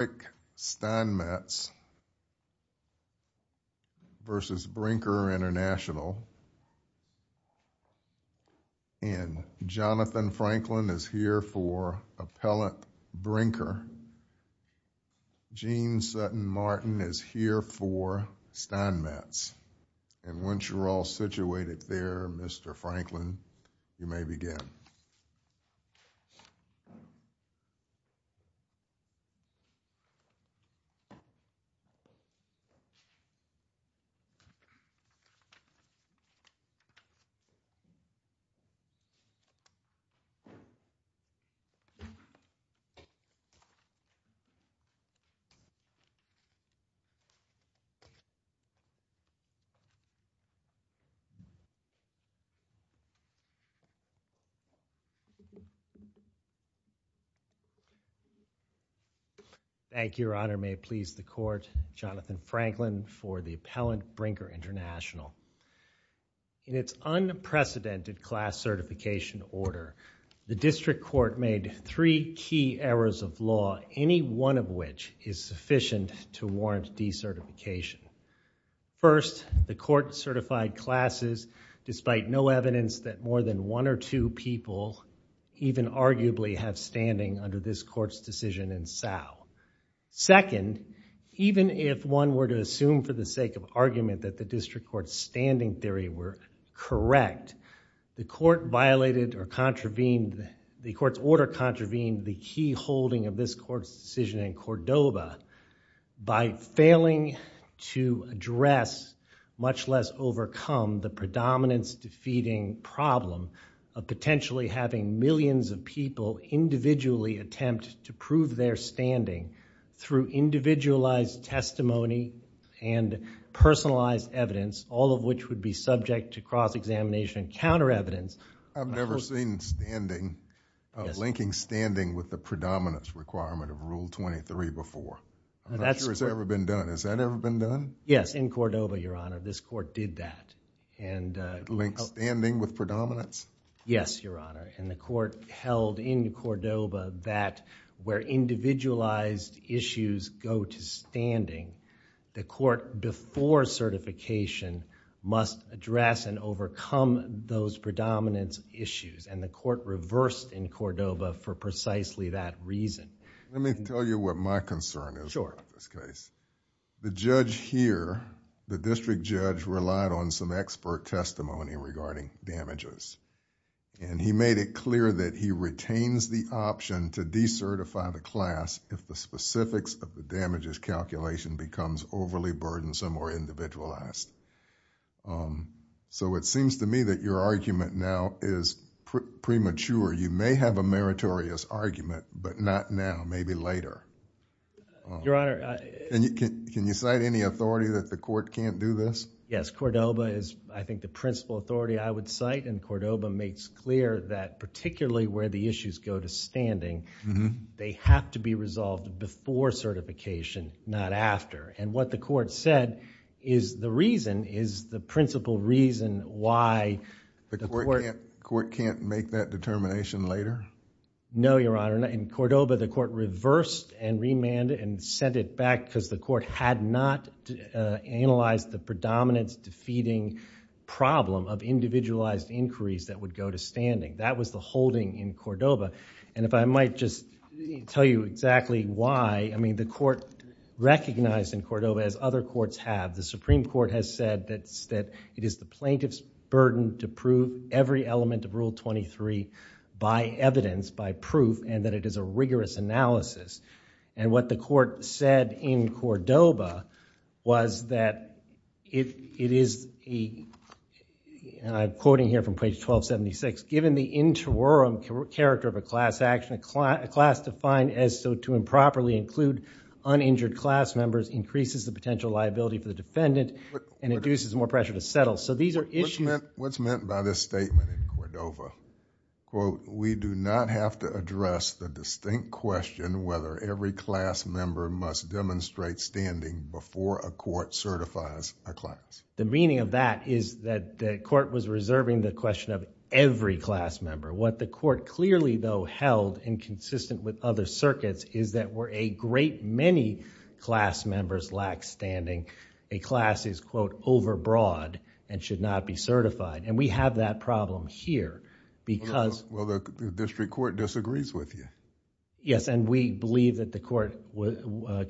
Eric Steinmetz v. Brinker International, and Jonathan Franklin is here for Appellant Brinker, Gene Sutton Martin is here for Steinmetz, and once you're all situated there, Mr. Franklin, you may begin. Thank you, Your Honor. May it please the Court, Jonathan Franklin for the Appellant Brinker International. In its unprecedented class certification order, the District Court made three key errors of law, any one of which is sufficient to warrant decertification. First, the Court certified classes despite no evidence that more than one or two people even arguably have standing under this Court's decision in Sal. Second, even if one were to assume for the sake of argument that the District Court's standing theory were correct, the Court violated or contravened, the Court's order contravened the key holding of this to address, much less overcome, the predominance defeating problem of potentially having millions of people individually attempt to prove their standing through individualized testimony and personalized evidence, all of which would be subject to cross-examination and counter-evidence. I've never seen linking standing with the predominance requirement of Rule 23 before. I'm not sure it's ever been done. Has that ever been done? Yes, in Cordova, Your Honor. This Court did that. Link standing with predominance? Yes, Your Honor. The Court held in Cordova that where individualized issues go to standing, the Court before certification must address and overcome those predominance issues. The Court reversed in Cordova for precisely that reason. Let me tell you what my concern is in this case. The judge here, the district judge relied on some expert testimony regarding damages. He made it clear that he retains the option to decertify the class if the specifics of the damages calculation becomes overly burdensome or individualized. It seems to me that your argument now is premature. You may have a chance now, maybe later. Your Honor... Can you cite any authority that the Court can't do this? Yes, Cordova is, I think, the principal authority I would cite. Cordova makes clear that particularly where the issues go to standing, they have to be resolved before certification, not after. What the Court said is the reason, is the principal reason why... The Court can't make that determination later? No, Your Honor. In Cordova, the Court reversed and remanded and sent it back because the Court had not analyzed the predominance-defeating problem of individualized inquiries that would go to standing. That was the holding in Cordova. If I might just tell you exactly why, the Court recognized in Cordova, as other courts have, the Supreme Court has said that it is the plaintiff's burden to prove every element of Rule 23 by evidence, by proof, and that it is a rigorous analysis. What the Court said in Cordova was that it is, and I'm quoting here from page 1276, given the interwoven character of a class action, a class defined as so to improperly include uninjured class members increases the potential liability for the defendant and induces more pressure to settle. So these are issues... What's meant by this statement in Cordova? Quote, we do not have to address the distinct question whether every class member must demonstrate standing before a court certifies a class. The meaning of that is that the Court was reserving the question of every class member. What the Court clearly though held and consistent with other circuits is that where a great many class members lack standing, a class is, quote, overbroad and should not be certified. We have that problem here because... Well, the district court disagrees with you. Yes, and we believe that the Court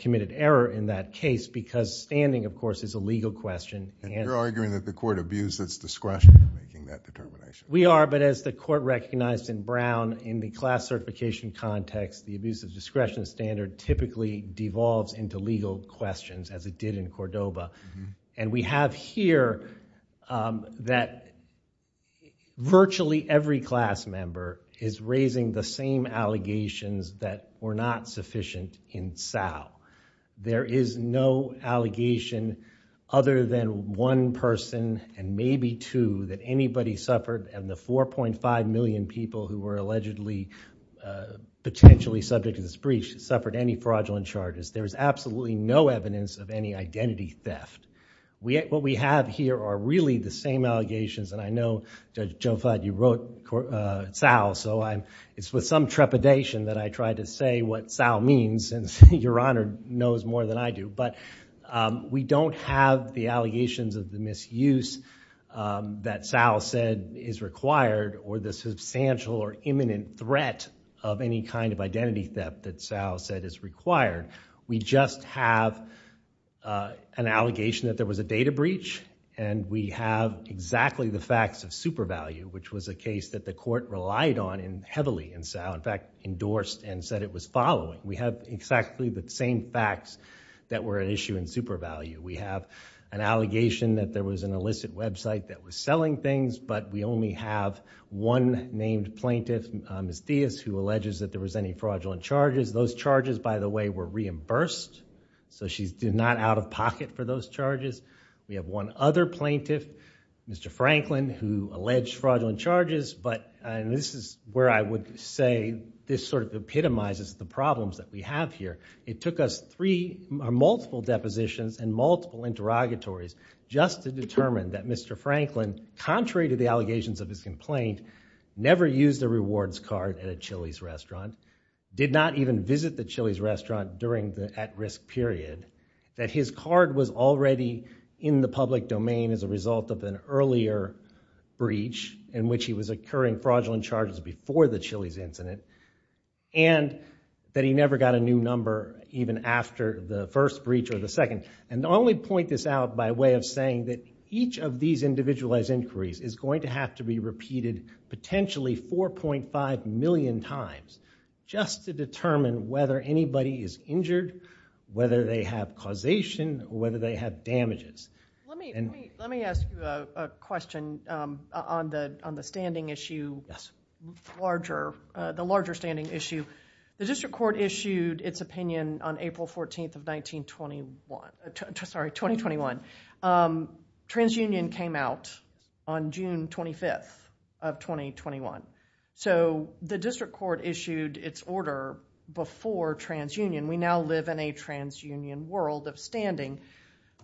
committed error in that case because standing, of course, is a legal question. You're arguing that the Court abused its discretion in making that determination. We are, but as the Court recognized in Brown, in the class certification context, the abuse of discretion standard typically devolves into legal questions as it did in Cordova. We have here that virtually every class member is raising the same allegations that were not sufficient in Sal. There is no allegation other than one person and maybe two that anybody suffered and the 4.5 million people who were allegedly potentially subject to this breach suffered any fraudulent charges. There is absolutely no evidence of any identity theft. What we have here are really the same allegations, and I know, Judge Jofad, you wrote Sal, so I'm... it's with some trepidation that I try to say what Sal means since Your Honor knows more than I do. We don't have the allegations of the misuse that Sal said is required or the substantial or imminent threat of any kind of identity theft that Sal said is required. We just have an allegation that there was a data breach, and we have exactly the facts of super value, which was a case that the Court relied on heavily in Sal, in fact, endorsed and said it was following. We have exactly the same facts that were an issue in super value. We have an allegation that there was an illicit website that was selling things, but we only have one named plaintiff, Ms. Diaz, who alleges that there was any fraudulent charges. Those charges, by the way, were reimbursed, so she's not out of pocket for those charges. We have one other plaintiff, Mr. Franklin, who alleged fraudulent charges, but this is where I would say this sort of epitomizes the problems that we have here. It took us three or multiple depositions and multiple interrogatories just to determine that Mr. Franklin, contrary to the allegations of his complaint, never used a rewards card at a Chili's restaurant, did not even visit the Chili's restaurant during the at-risk period, that his card was already in the public domain as a result of an earlier breach in which he was incurring fraudulent charges before the Chili's incident, and that he never got a new number even after the first breach or the second. I only point this out by way of saying that each of these individualized inquiries is going to have to be repeated potentially 4.5 million times just to determine whether anybody is injured, whether they have causation, or whether they have damages. Let me ask you a question on the standing issue, the larger standing issue. The district court issued its opinion on April 14th of 1921, sorry, 2021. Transunion came out on June 25th of 2021. The district court issued its order before transunion. We now live in a transunion world of standing.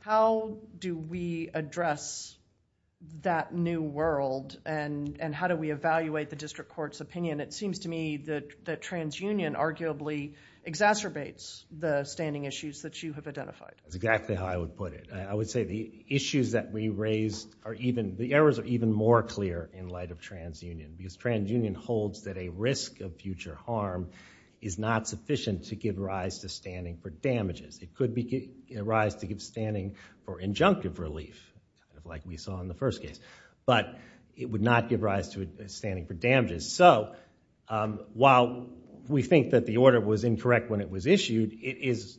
How do we address that new world, and how do we evaluate the district court's opinion? It seems to me that transunion arguably exacerbates the standing issues that you have identified. That's exactly how I would put it. I would say the issues that we raise, the errors are even more clear in light of transunion, because transunion holds that a risk of future harm is not sufficient to give rise to standing for damages. It could arise to give standing for injunctive relief like we saw in the first case, but it would not give rise to standing for damages. While we think that the order was incorrect when it was issued, it is,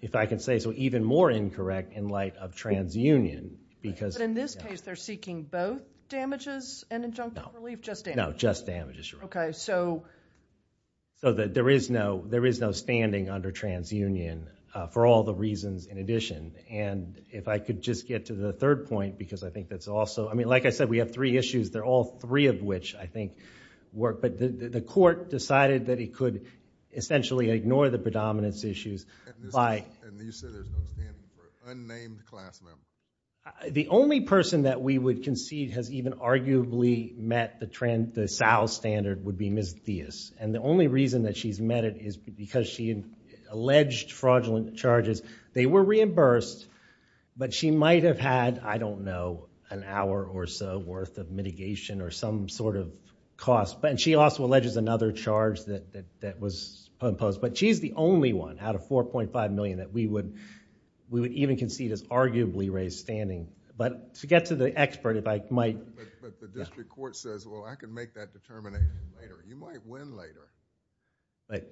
if I can say so, even more incorrect in light of transunion because... In this case, they're seeking both damages and injunctive relief, just damages? Okay, so... So that there is no standing under transunion for all the reasons in addition, and if I could just get to the third point, because I think that's also... I mean, like I said, we have three issues. They're all three of which I think work, but the court decided that it could essentially ignore the predominance issues by... And you said there's no standing for unnamed class members? The only person that we would concede has even arguably met the SAL standard would be Ms. Theus, and the only reason that she's met it is because she alleged fraudulent charges. They were reimbursed, but she might have had, I don't know, an hour or so worth of mitigation or some sort of cost, and she also alleges another charge that was imposed, but she's the only one out of $4.5 million that we would even concede is arguably raised standing, but to get to the expert, if I might... But the district court says, well, I can make that determination later. You might win later.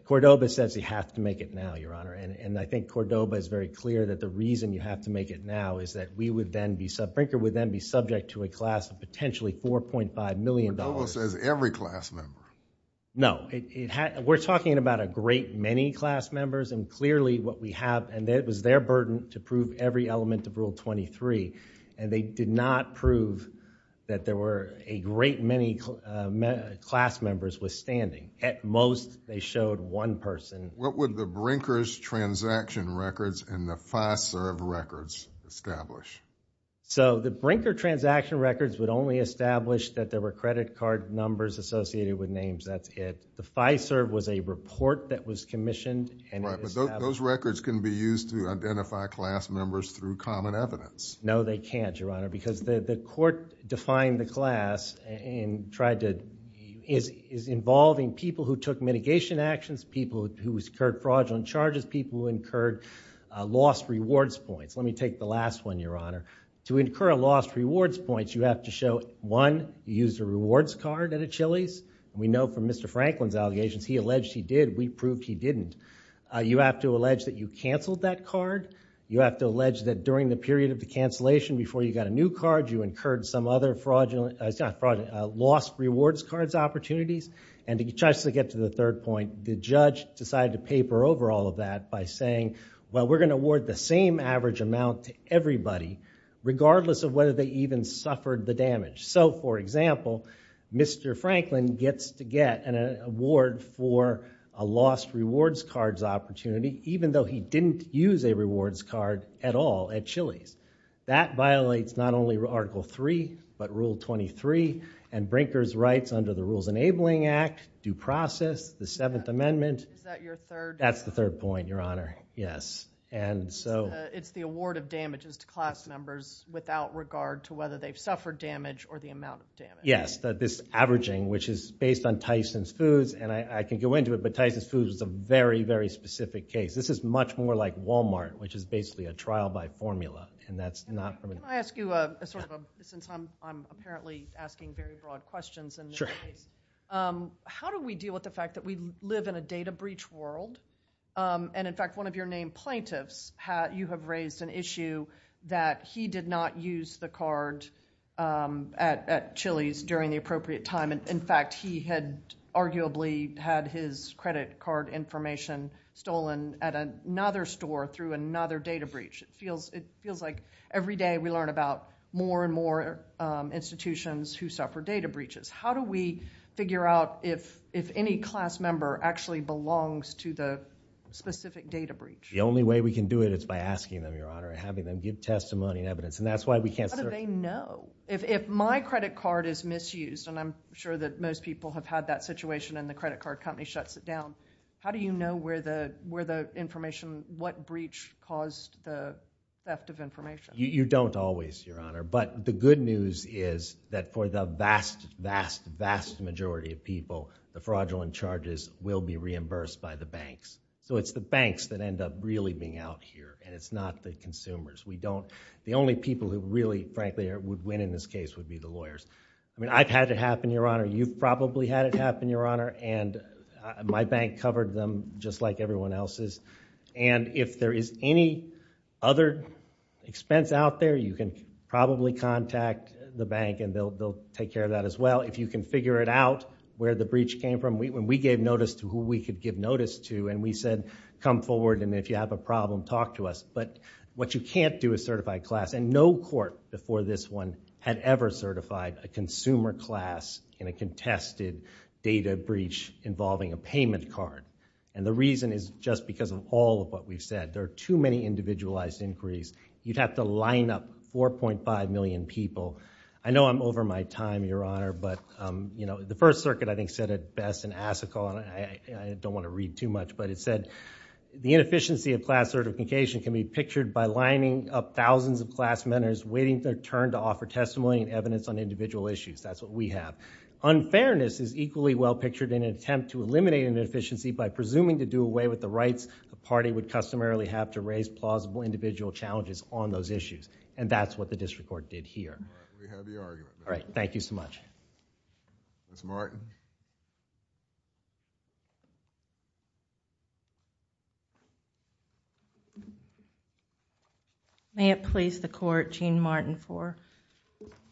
Cordova says you have to make it now, Your Honor, and I think Cordova is very clear that the reason you have to make it now is that we would then be... Brinker would then be subject to a class of potentially $4.5 million... Cordova says every class member. No. We're talking about a great many class members, and clearly what we have... and it was their burden to prove every element of Rule 23, and they did not prove that there were a great many class members withstanding. At most, they showed one person. What would the Brinker's transaction records and the FISA records establish? So the Brinker transaction records would only establish that there were credit card numbers associated with names, that's it. The FISA was a report that was commissioned, and it established... Right, but those records can be used to identify class members through common evidence. No, they can't, Your Honor, because the court defined the class and tried to... is involving people who took mitigation actions, people who incurred fraudulent charges, people who incurred lost rewards points. Let me take the last one, Your Honor. To incur a lost rewards points, you have to show, one, you used a rewards card at a Chili's. We know from Mr. Franklin's allegations, he alleged he did. We proved he didn't. You have to allege that you canceled that card. You have to allege that during the period of the cancellation, before you got a new card, you incurred some other fraudulent... lost rewards cards opportunities, and to try to get to the third point, the judge decided to paper over all of that by saying, well, we're going to award the same average amount to everybody, regardless of whether they even suffered the damage. So, for example, Mr. Franklin gets to get an award for a lost rewards cards opportunity, even though he didn't use a rewards card at all at Chili's. That violates not only Article 3, but Rule 23, and Brinker's Rights under the Rules Enabling Act, due process, the Seventh Amendment... Is that your third... That's the third point, Your Honor, yes. It's the award of damages to class members, without regard to whether they've suffered damage or the amount of damage. Yes, this averaging, which is based on Tyson's Foods, and I can go into it, but Tyson's Foods is a very, very specific case. This is much more like Walmart, which is basically a trial by formula, and that's not... Can I ask you, since I'm apparently asking very broad questions in this case, how do we deal with the fact that we live in a data breach world, and in fact, one of your name plaintiffs, you have raised an issue that he did not use the card at Chili's during the appropriate time, and in fact, he had arguably had his credit card information stolen at another store through another data breach. It feels like every day we learn about more and more institutions who suffer data breaches. How do we figure out if any class member actually suffered a data breach? The only way we can do it is by asking them, Your Honor, and having them give testimony and evidence, and that's why we can't... How do they know? If my credit card is misused, and I'm sure that most people have had that situation and the credit card company shuts it down, how do you know where the information, what breach caused the theft of information? You don't always, Your Honor, but the good news is that for the vast, vast, vast majority of people, the fraudulent charges will be the ones that end up really being out here, and it's not the consumers. The only people who really, frankly, would win in this case would be the lawyers. I've had it happen, Your Honor. You've probably had it happen, Your Honor, and my bank covered them just like everyone else's. If there is any other expense out there, you can probably contact the bank, and they'll take care of that as well. If you can figure it out where the breach came from, when we gave notice to who we could give notice to, and we said, come forward and if you have a problem, talk to us, but what you can't do is certify a class, and no court before this one had ever certified a consumer class in a contested data breach involving a payment card. The reason is just because of all of what we've said. There are too many individualized inquiries. You'd have to line up 4.5 million people. I know I'm over my time, Your Honor, but the First Circuit, I think, said it best in Asicall, and I don't want to read too much, but it said, the inefficiency of class certification can be pictured by lining up thousands of class mentors waiting for their turn to offer testimony and evidence on individual issues. That's what we have. Unfairness is equally well pictured in an attempt to eliminate an inefficiency by presuming to do away with the rights a party would customarily have to raise plausible individual challenges on those issues, and that's what the district court did here. All right. We have the argument. All right. Thank you so much. Ms. Martin. May it please the court, Gene Martin, for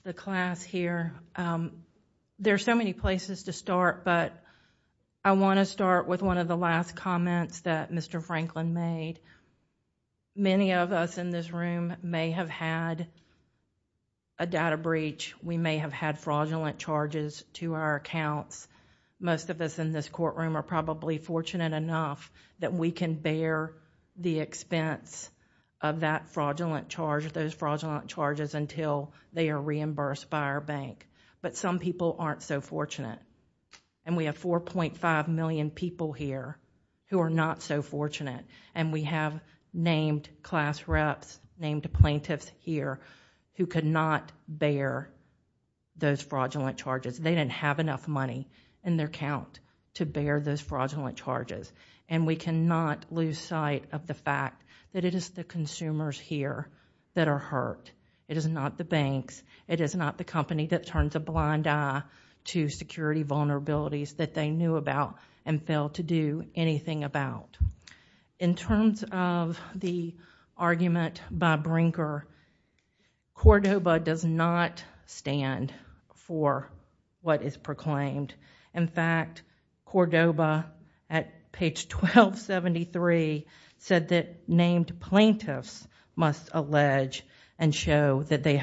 the class here. There are so many places to start, but I want to start with one of the last comments that Mr. Franklin made. Many of us in this room may have had a data breach. We may have had fraudulent charges to our accounts. Most of us in this courtroom are probably fortunate enough that we can bear the expense of that fraudulent charge, those fraudulent charges, until they are reimbursed by our bank, but some people aren't so fortunate. We have 4.5 million people here who are not so fortunate. We have named class reps, named plaintiffs here who could not bear those fraudulent charges. They didn't have enough money in their account to bear those fraudulent charges. We cannot lose sight of the fact that it is the consumers here that are hurt. It is not the banks. It is not the company that turns a blind eye to security vulnerabilities that they knew about and failed to do anything about. In terms of the argument by Brinker, Cordova does not stand for what is proclaimed. In fact, Cordova at page 1273 said that named plaintiffs must allege and show that they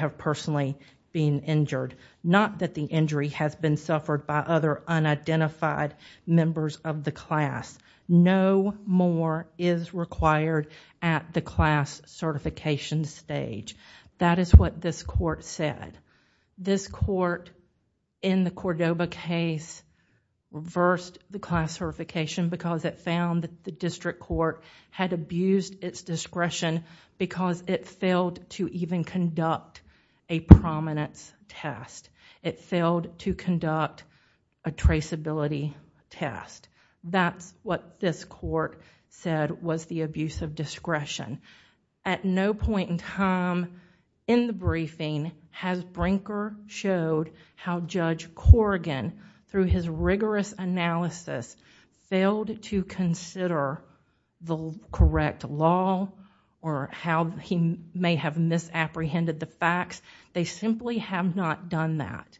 identified members of the class. No more is required at the class certification stage. That is what this court said. This court in the Cordova case reversed the class certification because it found that the district court had abused its discretion because it failed to even conduct a prominence test. It failed to conduct a traceability test. That's what this court said was the abuse of discretion. At no point in time in the briefing has Brinker showed how Judge Corrigan, through his rigorous analysis, failed to consider the correct law or how he may have misapprehended the facts. They simply have not done that.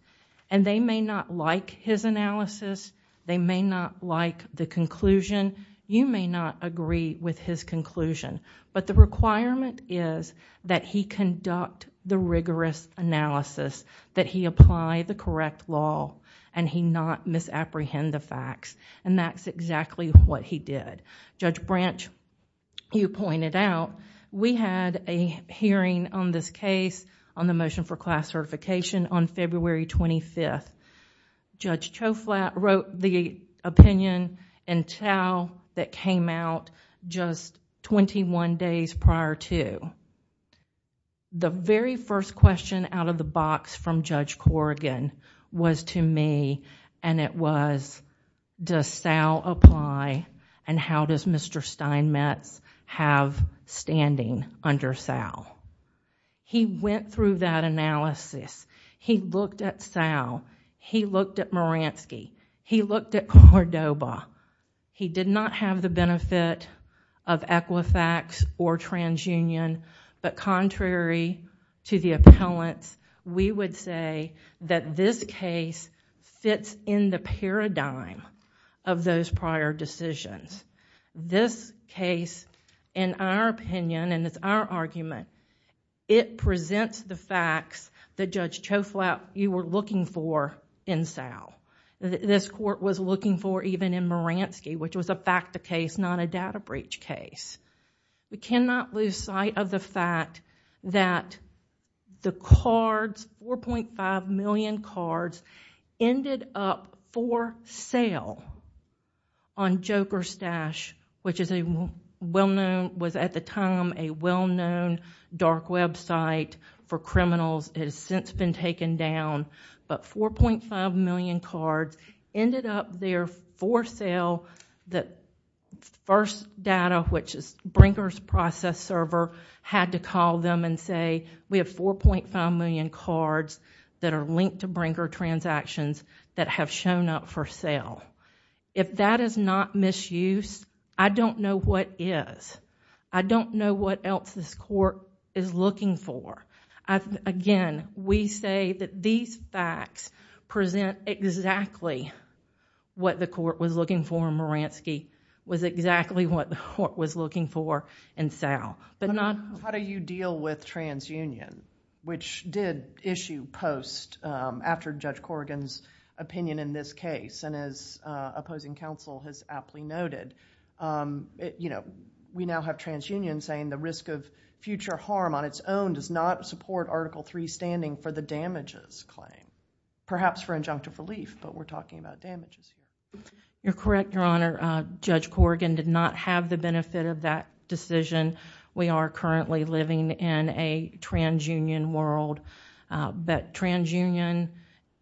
They may not like his analysis. They may not like the conclusion. You may not agree with his conclusion, but the requirement is that he conduct the rigorous analysis, that he apply the correct law and he not misapprehend the facts. That's exactly what he did. Judge Branch, you pointed out, we had a hearing on this case on the motion for class certification on February 25th. Judge Choflat wrote the opinion in Tau that came out just twenty-one days prior to. The very first question out of the box from Judge Corrigan was to me and it was, does Sal apply and how does Mr. Steinmetz have standing under Sal? He went through that analysis. He looked at Sal. He looked at Maransky. He looked at Cordoba. He did not have the benefit of Equifax or TransUnion, but contrary to the appellants, we would say that this case fits in the paradigm of those prior decisions. This case, in our opinion and it's our argument, it presents the facts that Judge Choflat, you were looking for in Sal. This court was looking for even in Maransky, which was a fact of case, not a data breach case. We cannot lose sight of the fact that the cards, 4.5 million cards, ended up for sale on JokerStash, which was at the time a well-known dark web site for criminals. It has since been Brinker's process server had to call them and say, we have 4.5 million cards that are linked to Brinker transactions that have shown up for sale. If that is not misuse, I don't know what is. I don't know what else this court is looking for. Again, we say that these facts present exactly what the court was looking for in Maransky, was exactly what the court was looking for in Sal.................. How do you deal with TransUnion, which did issue post after Judge Corrigan's opinion in this case? As opposing counsel has aptly noted, we now have TransUnion saying the risk of future harm on its own does not support Article III standing for the damages claim, perhaps for injunctive relief, but we're talking about damages. You're correct, Your Honor. Judge Corrigan did not have the benefit of that decision. We are currently living in a TransUnion world, but TransUnion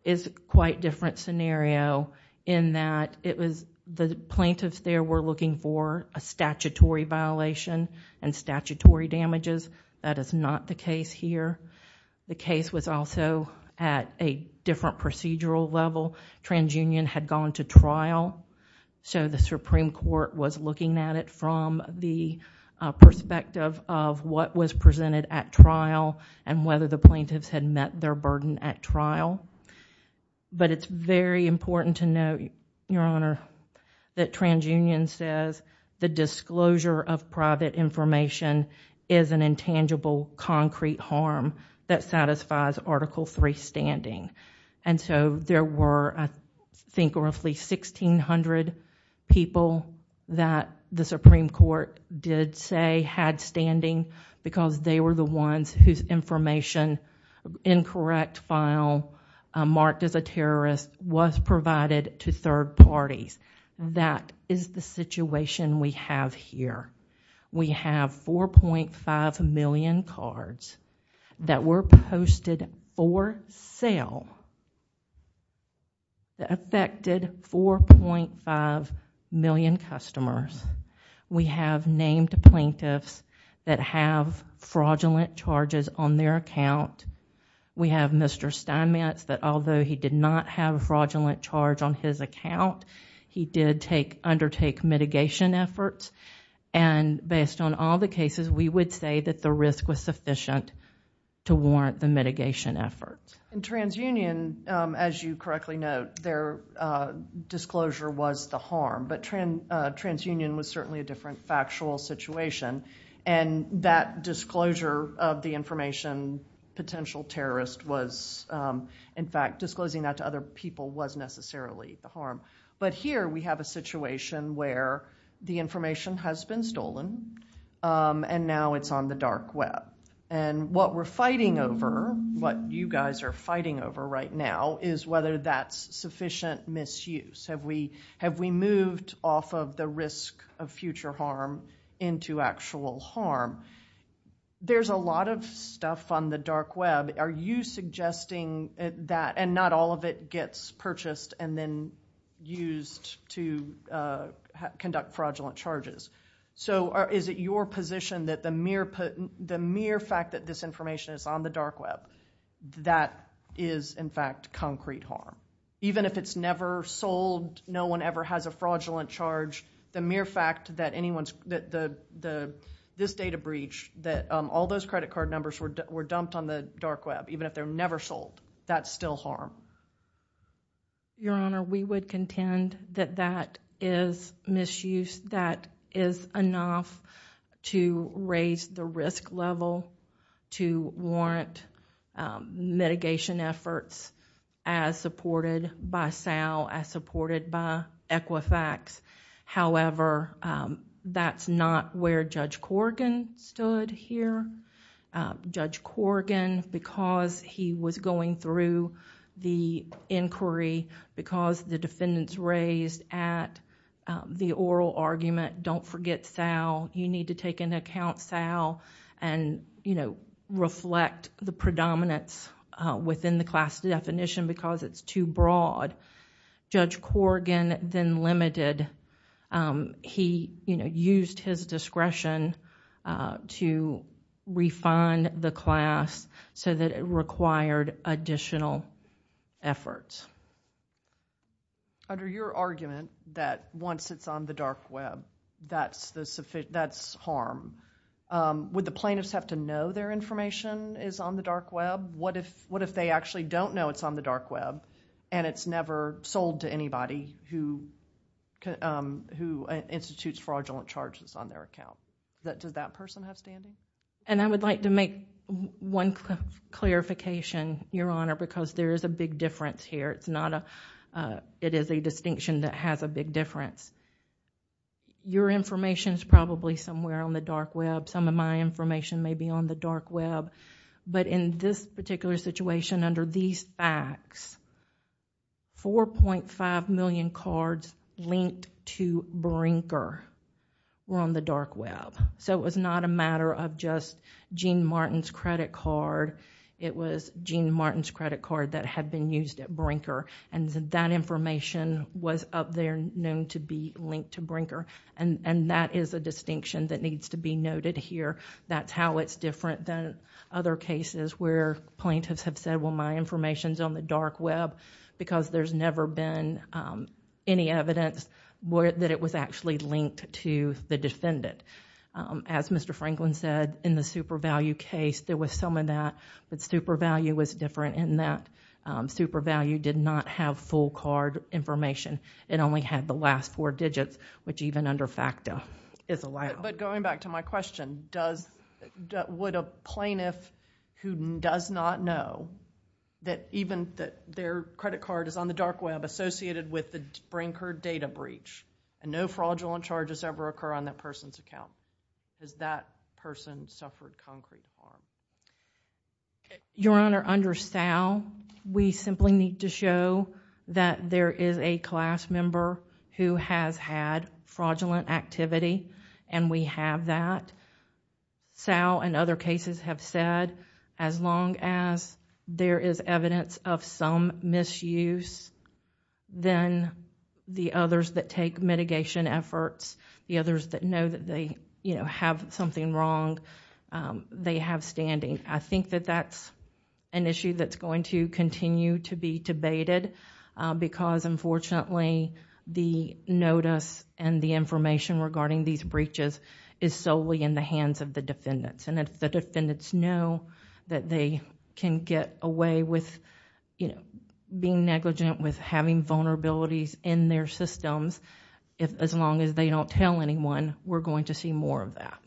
is a quite different scenario in that the plaintiffs there were looking for a statutory violation and statutory damages. That is not the case here. The case was also at a different procedural level. TransUnion had gone to trial, so the Supreme Court was looking at it from the perspective of what was presented at trial and whether the plaintiffs had met their burden at trial. It's very important to note, Your Honor, that TransUnion says the disclosure of private information is an intangible, concrete harm that satisfies Article III standing. There were, I think, roughly 1,600 people that the Supreme Court did say had standing because they were the ones whose information incorrect file marked as a terrorist was provided to third parties. That is the situation we have here. We have 4.5 million cards that were posted for sale that affected 4.5 million customers. We have named plaintiffs that have fraudulent charges on their account. We have Mr. Steinmetz that although he did not have a fraudulent charge on his account, he did undertake mitigation efforts. Based on all the cases, we would say that the risk was sufficient to warrant the mitigation efforts. In TransUnion, as you correctly note, their disclosure was the harm, but TransUnion was potential terrorist. In fact, disclosing that to other people was necessarily the harm. But here, we have a situation where the information has been stolen and now it's on the dark web. What we're fighting over, what you guys are fighting over right now, is whether that's sufficient misuse. Have we moved off of the risk of future harm into actual harm? There's a lot of stuff on the dark web. Are you suggesting that not all of it gets purchased and then used to conduct fraudulent charges? Is it your position that the mere fact that this information is on the dark web, that is in fact concrete harm? Even if it's never sold, no one ever has a fraudulent charge, the mere fact that this data breach, that all those credit card numbers were dumped on the dark web, even if they're never sold, that's still harm? Your Honor, we would contend that that is misuse. That is enough to raise the risk level to warrant mitigation efforts as supported by Sal, as supported by Equifax. However, that's not where Judge Corrigan stood here. Judge Corrigan, because he was going through the inquiry, because the defendants raised at the oral argument, don't forget Sal. You need to take into account Sal and reflect the predominance within the class definition because it's too broad. Judge Corrigan then limited... he used his discretion to refund the class so that it required additional efforts. Under your argument that once it's on the dark web, that's harm, would the plaintiffs have to know their information is on the dark web? What if they actually don't know it's on the dark web and it's never sold to anybody who institutes fraudulent charges on their account? Does that person have standing? I would like to make one clarification, Your Honor, because there is a big difference here. It is a distinction that has a big difference. Your information is probably somewhere on the dark web. Some of my information may be on the dark web. In this particular situation, under these facts, 4.5 million cards linked to Brinker were on the dark web. It was not a matter of just Gene Martin's credit card. It was Gene Martin's credit card that had been used at Brinker. That information was up there known to be linked to Brinker. That is a distinction that needs to be noted here. That's how it's different than other cases where plaintiffs have said, well, my information is on the dark web because there's never been any evidence that it was actually linked to the defendant. As Mr. Franklin said, in the super value case, there was some of that, but super value was different in that super value did not have full card information. It only had the last four digits, which even under FACTA is allowed. Going back to my question, would a plaintiff who does not know that even their credit card is on the dark web associated with the Brinker data breach and no fraudulent charges ever occur on that person's account? Has that person suffered concrete harm? Your Honor, under Sal, we simply need to show that there is a class member who has had fraudulent activity and we have that. Sal and other cases have said as long as there is evidence of some misuse, then the others that take mitigation efforts, the others that know that they have something wrong, they have standing. I think that that's an issue that's going to continue to be debated because unfortunately, the notice and the information regarding these breaches is solely in the hands of the defendants. If the defendants know that they can get away with being negligent, with having vulnerabilities in their systems, as long as they don't tell anyone, we're going to see more of that.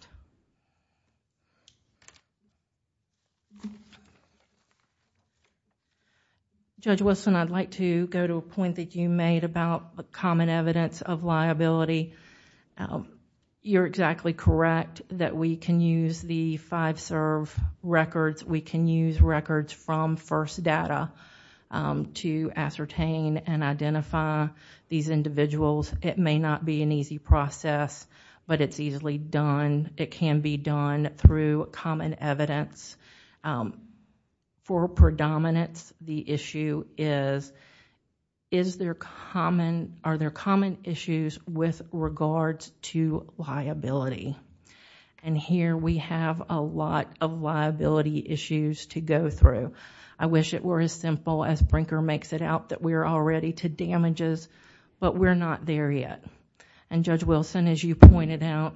Judge Wilson, I'd like to go to a point that you made about common evidence of liability. You're exactly correct that we can use the five-serve records. We can use records from first data to ascertain and identify these individuals. It may not be an easy process, but it's easily done. It can be done through common evidence. For predominance, the issue is, are there common issues with regards to liability? Here, we have a lot of liability issues to go through. I wish it were as simple as Brinker makes it out that we're all ready to damages, but we're not there yet. Judge Wilson, as you pointed out,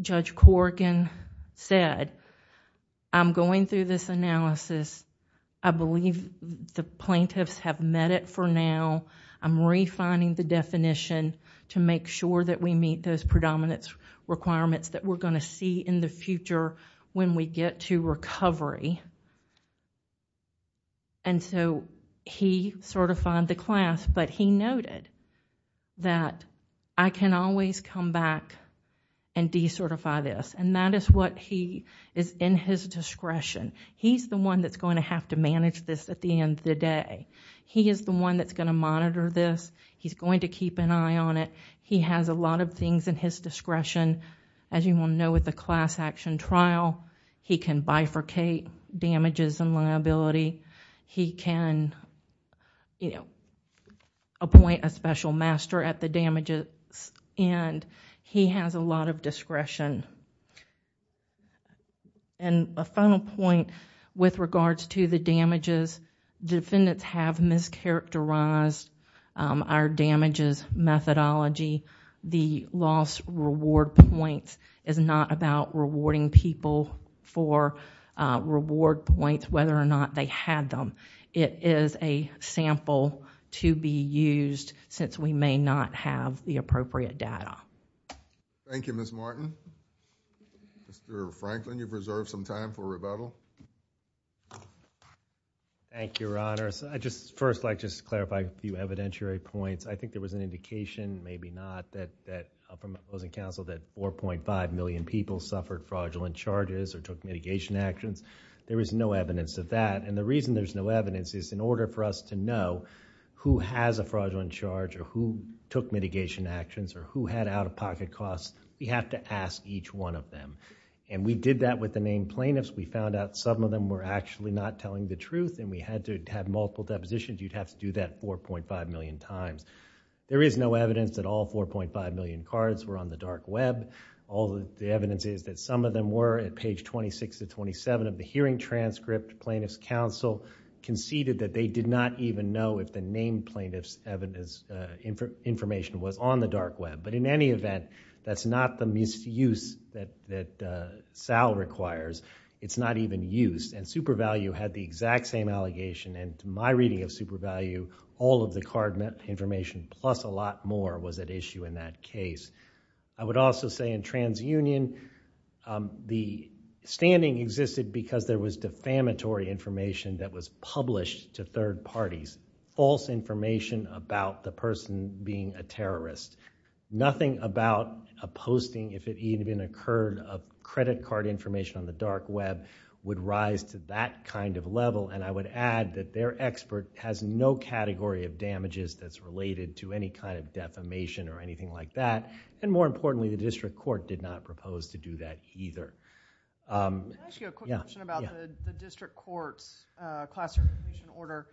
Judge Corrigan said, I'm going through this analysis. I believe the plaintiffs have met it for now. I'm refining the definition to make sure that we meet those predominance requirements that we're going to see in the future when we get to recovery. He certified the class, but he noted that I can always come back and decertify this. That is what he is in his discretion. He's the one that's going to have to manage this at the end of the day. He is the one that's going to monitor this. He's going to keep an eye on it. He has a lot of things in his discretion. As you will know with the class action trial, he can bifurcate damages and liability. He can appoint a special master at the damages and he has a lot of discretion. A final point with regards to the damages, defendants have mischaracterized our damages methodology. The loss reward points is not about rewarding people for reward points, whether or not they had them. It is a sample to be used since we may not have the appropriate data. Thank you, Ms. Martin. Mr. Franklin, you've reserved some time for rebuttal. Thank you, Your Honor. First, I'd just like to clarify a few evidentiary points. I think there was an indication, maybe not, that 4.5 million people suffered fraudulent charges or evidence of that. The reason there's no evidence is in order for us to know who has a fraudulent charge or who took mitigation actions or who had out-of-pocket costs, we have to ask each one of them. We did that with the main plaintiffs. We found out some of them were actually not telling the truth and we had to have multiple depositions. You'd have to do that 4.5 million times. There is no evidence that all 4.5 million cards were on the dark web. All the evidence is that some of them were at page 26 to 27 of the hearing transcript. Plaintiff's counsel conceded that they did not even know if the named plaintiff's information was on the dark web. In any event, that's not the misuse that Sal requires. It's not even used. SuperValue had the exact same allegation. In my reading of SuperValue, all of the card information plus a lot more was at issue in that case. I would also say in TransUnion, the standing existed because there was defamatory information that was published to third parties, false information about the person being a terrorist. Nothing about a posting, if it even occurred, of credit card information on the dark web would rise to that kind of level. I would add that their expert has no category of damages that's related to any kind of defamation or anything like that. More importantly, the district court did not propose to do that either. Can I ask you a quick question about the district court's classification order?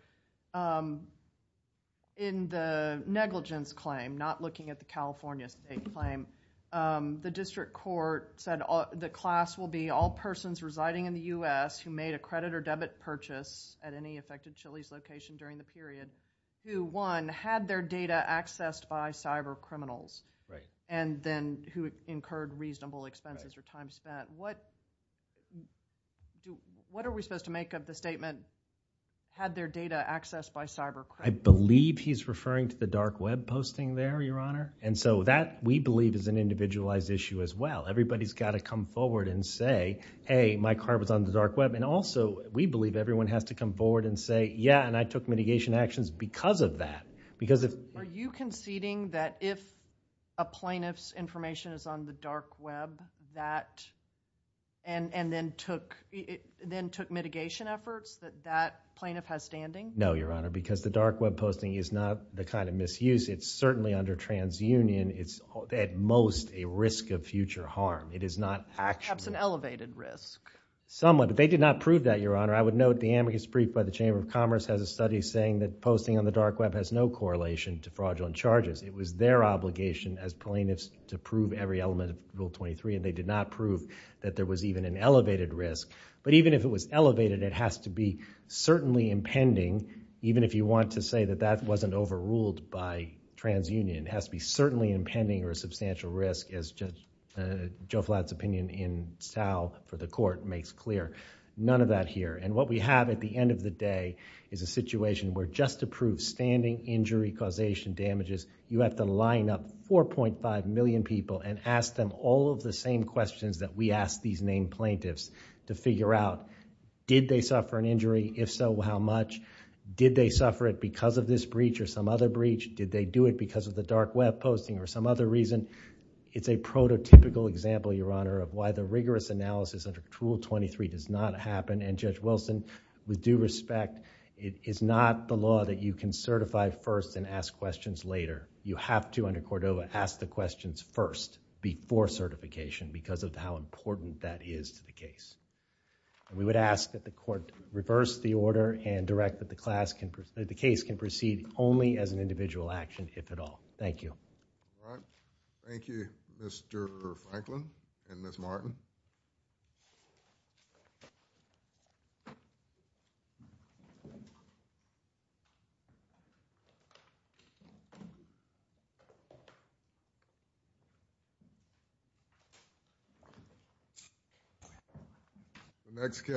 In the negligence claim, not looking at the California state claim, the district court said the class will be all persons residing in the U.S. who made a credit or debit purchase at any affected Chili's location during the period who, one, had their data accessed by cyber criminals and then who incurred reasonable expenses or time spent. What are we supposed to make of the statement, had their data accessed by cyber criminals? I believe he's referring to the dark web posting there, Your Honor. That, we believe, is an individualized issue as well. Everybody's got to come forward and say, hey, my card was on the board and say, yeah, and I took mitigation actions because of that. Are you conceding that if a plaintiff's information is on the dark web, that then took mitigation efforts that that plaintiff has standing? No, Your Honor, because the dark web posting is not the kind of misuse. It's certainly under transunion. It's, at most, a risk of future harm. It is not actually... Perhaps an elevated risk. Somewhat, but they did not prove that, Your Honor. I would note the amicus brief by the Chamber of Commerce has a study saying that posting on the dark web has no correlation to fraudulent charges. It was their obligation as plaintiffs to prove every element of Rule 23, and they did not prove that there was even an elevated risk. Even if it was elevated, it has to be certainly impending, even if you want to say that that wasn't overruled by transunion. It has to be certainly impending or a substantial risk, as Joe Flatt's opinion in Stau for the Court makes clear. None of that here. What we have at the end of the day is a situation where just to prove standing injury causation damages, you have to line up 4.5 million people and ask them all of the same questions that we ask these named plaintiffs to figure out. Did they suffer an injury? If so, how much? Did they suffer it because of this breach or some other breach? Did they do it because of the dark web posting or some other reason? It's a prototypical example, Your Honor, of why the rigorous analysis under Rule 23 does not happen. Judge Wilson, with due respect, it is not the law that you can certify first and ask questions later. You have to, under Cordova, ask the questions first before certification because of how important that is to the case. We would ask that the court reverse the order and direct the case to proceed only as an individual action, if at all. Thank you. All right. Thank you, Mr. Franklin and Ms. Martin. The next case.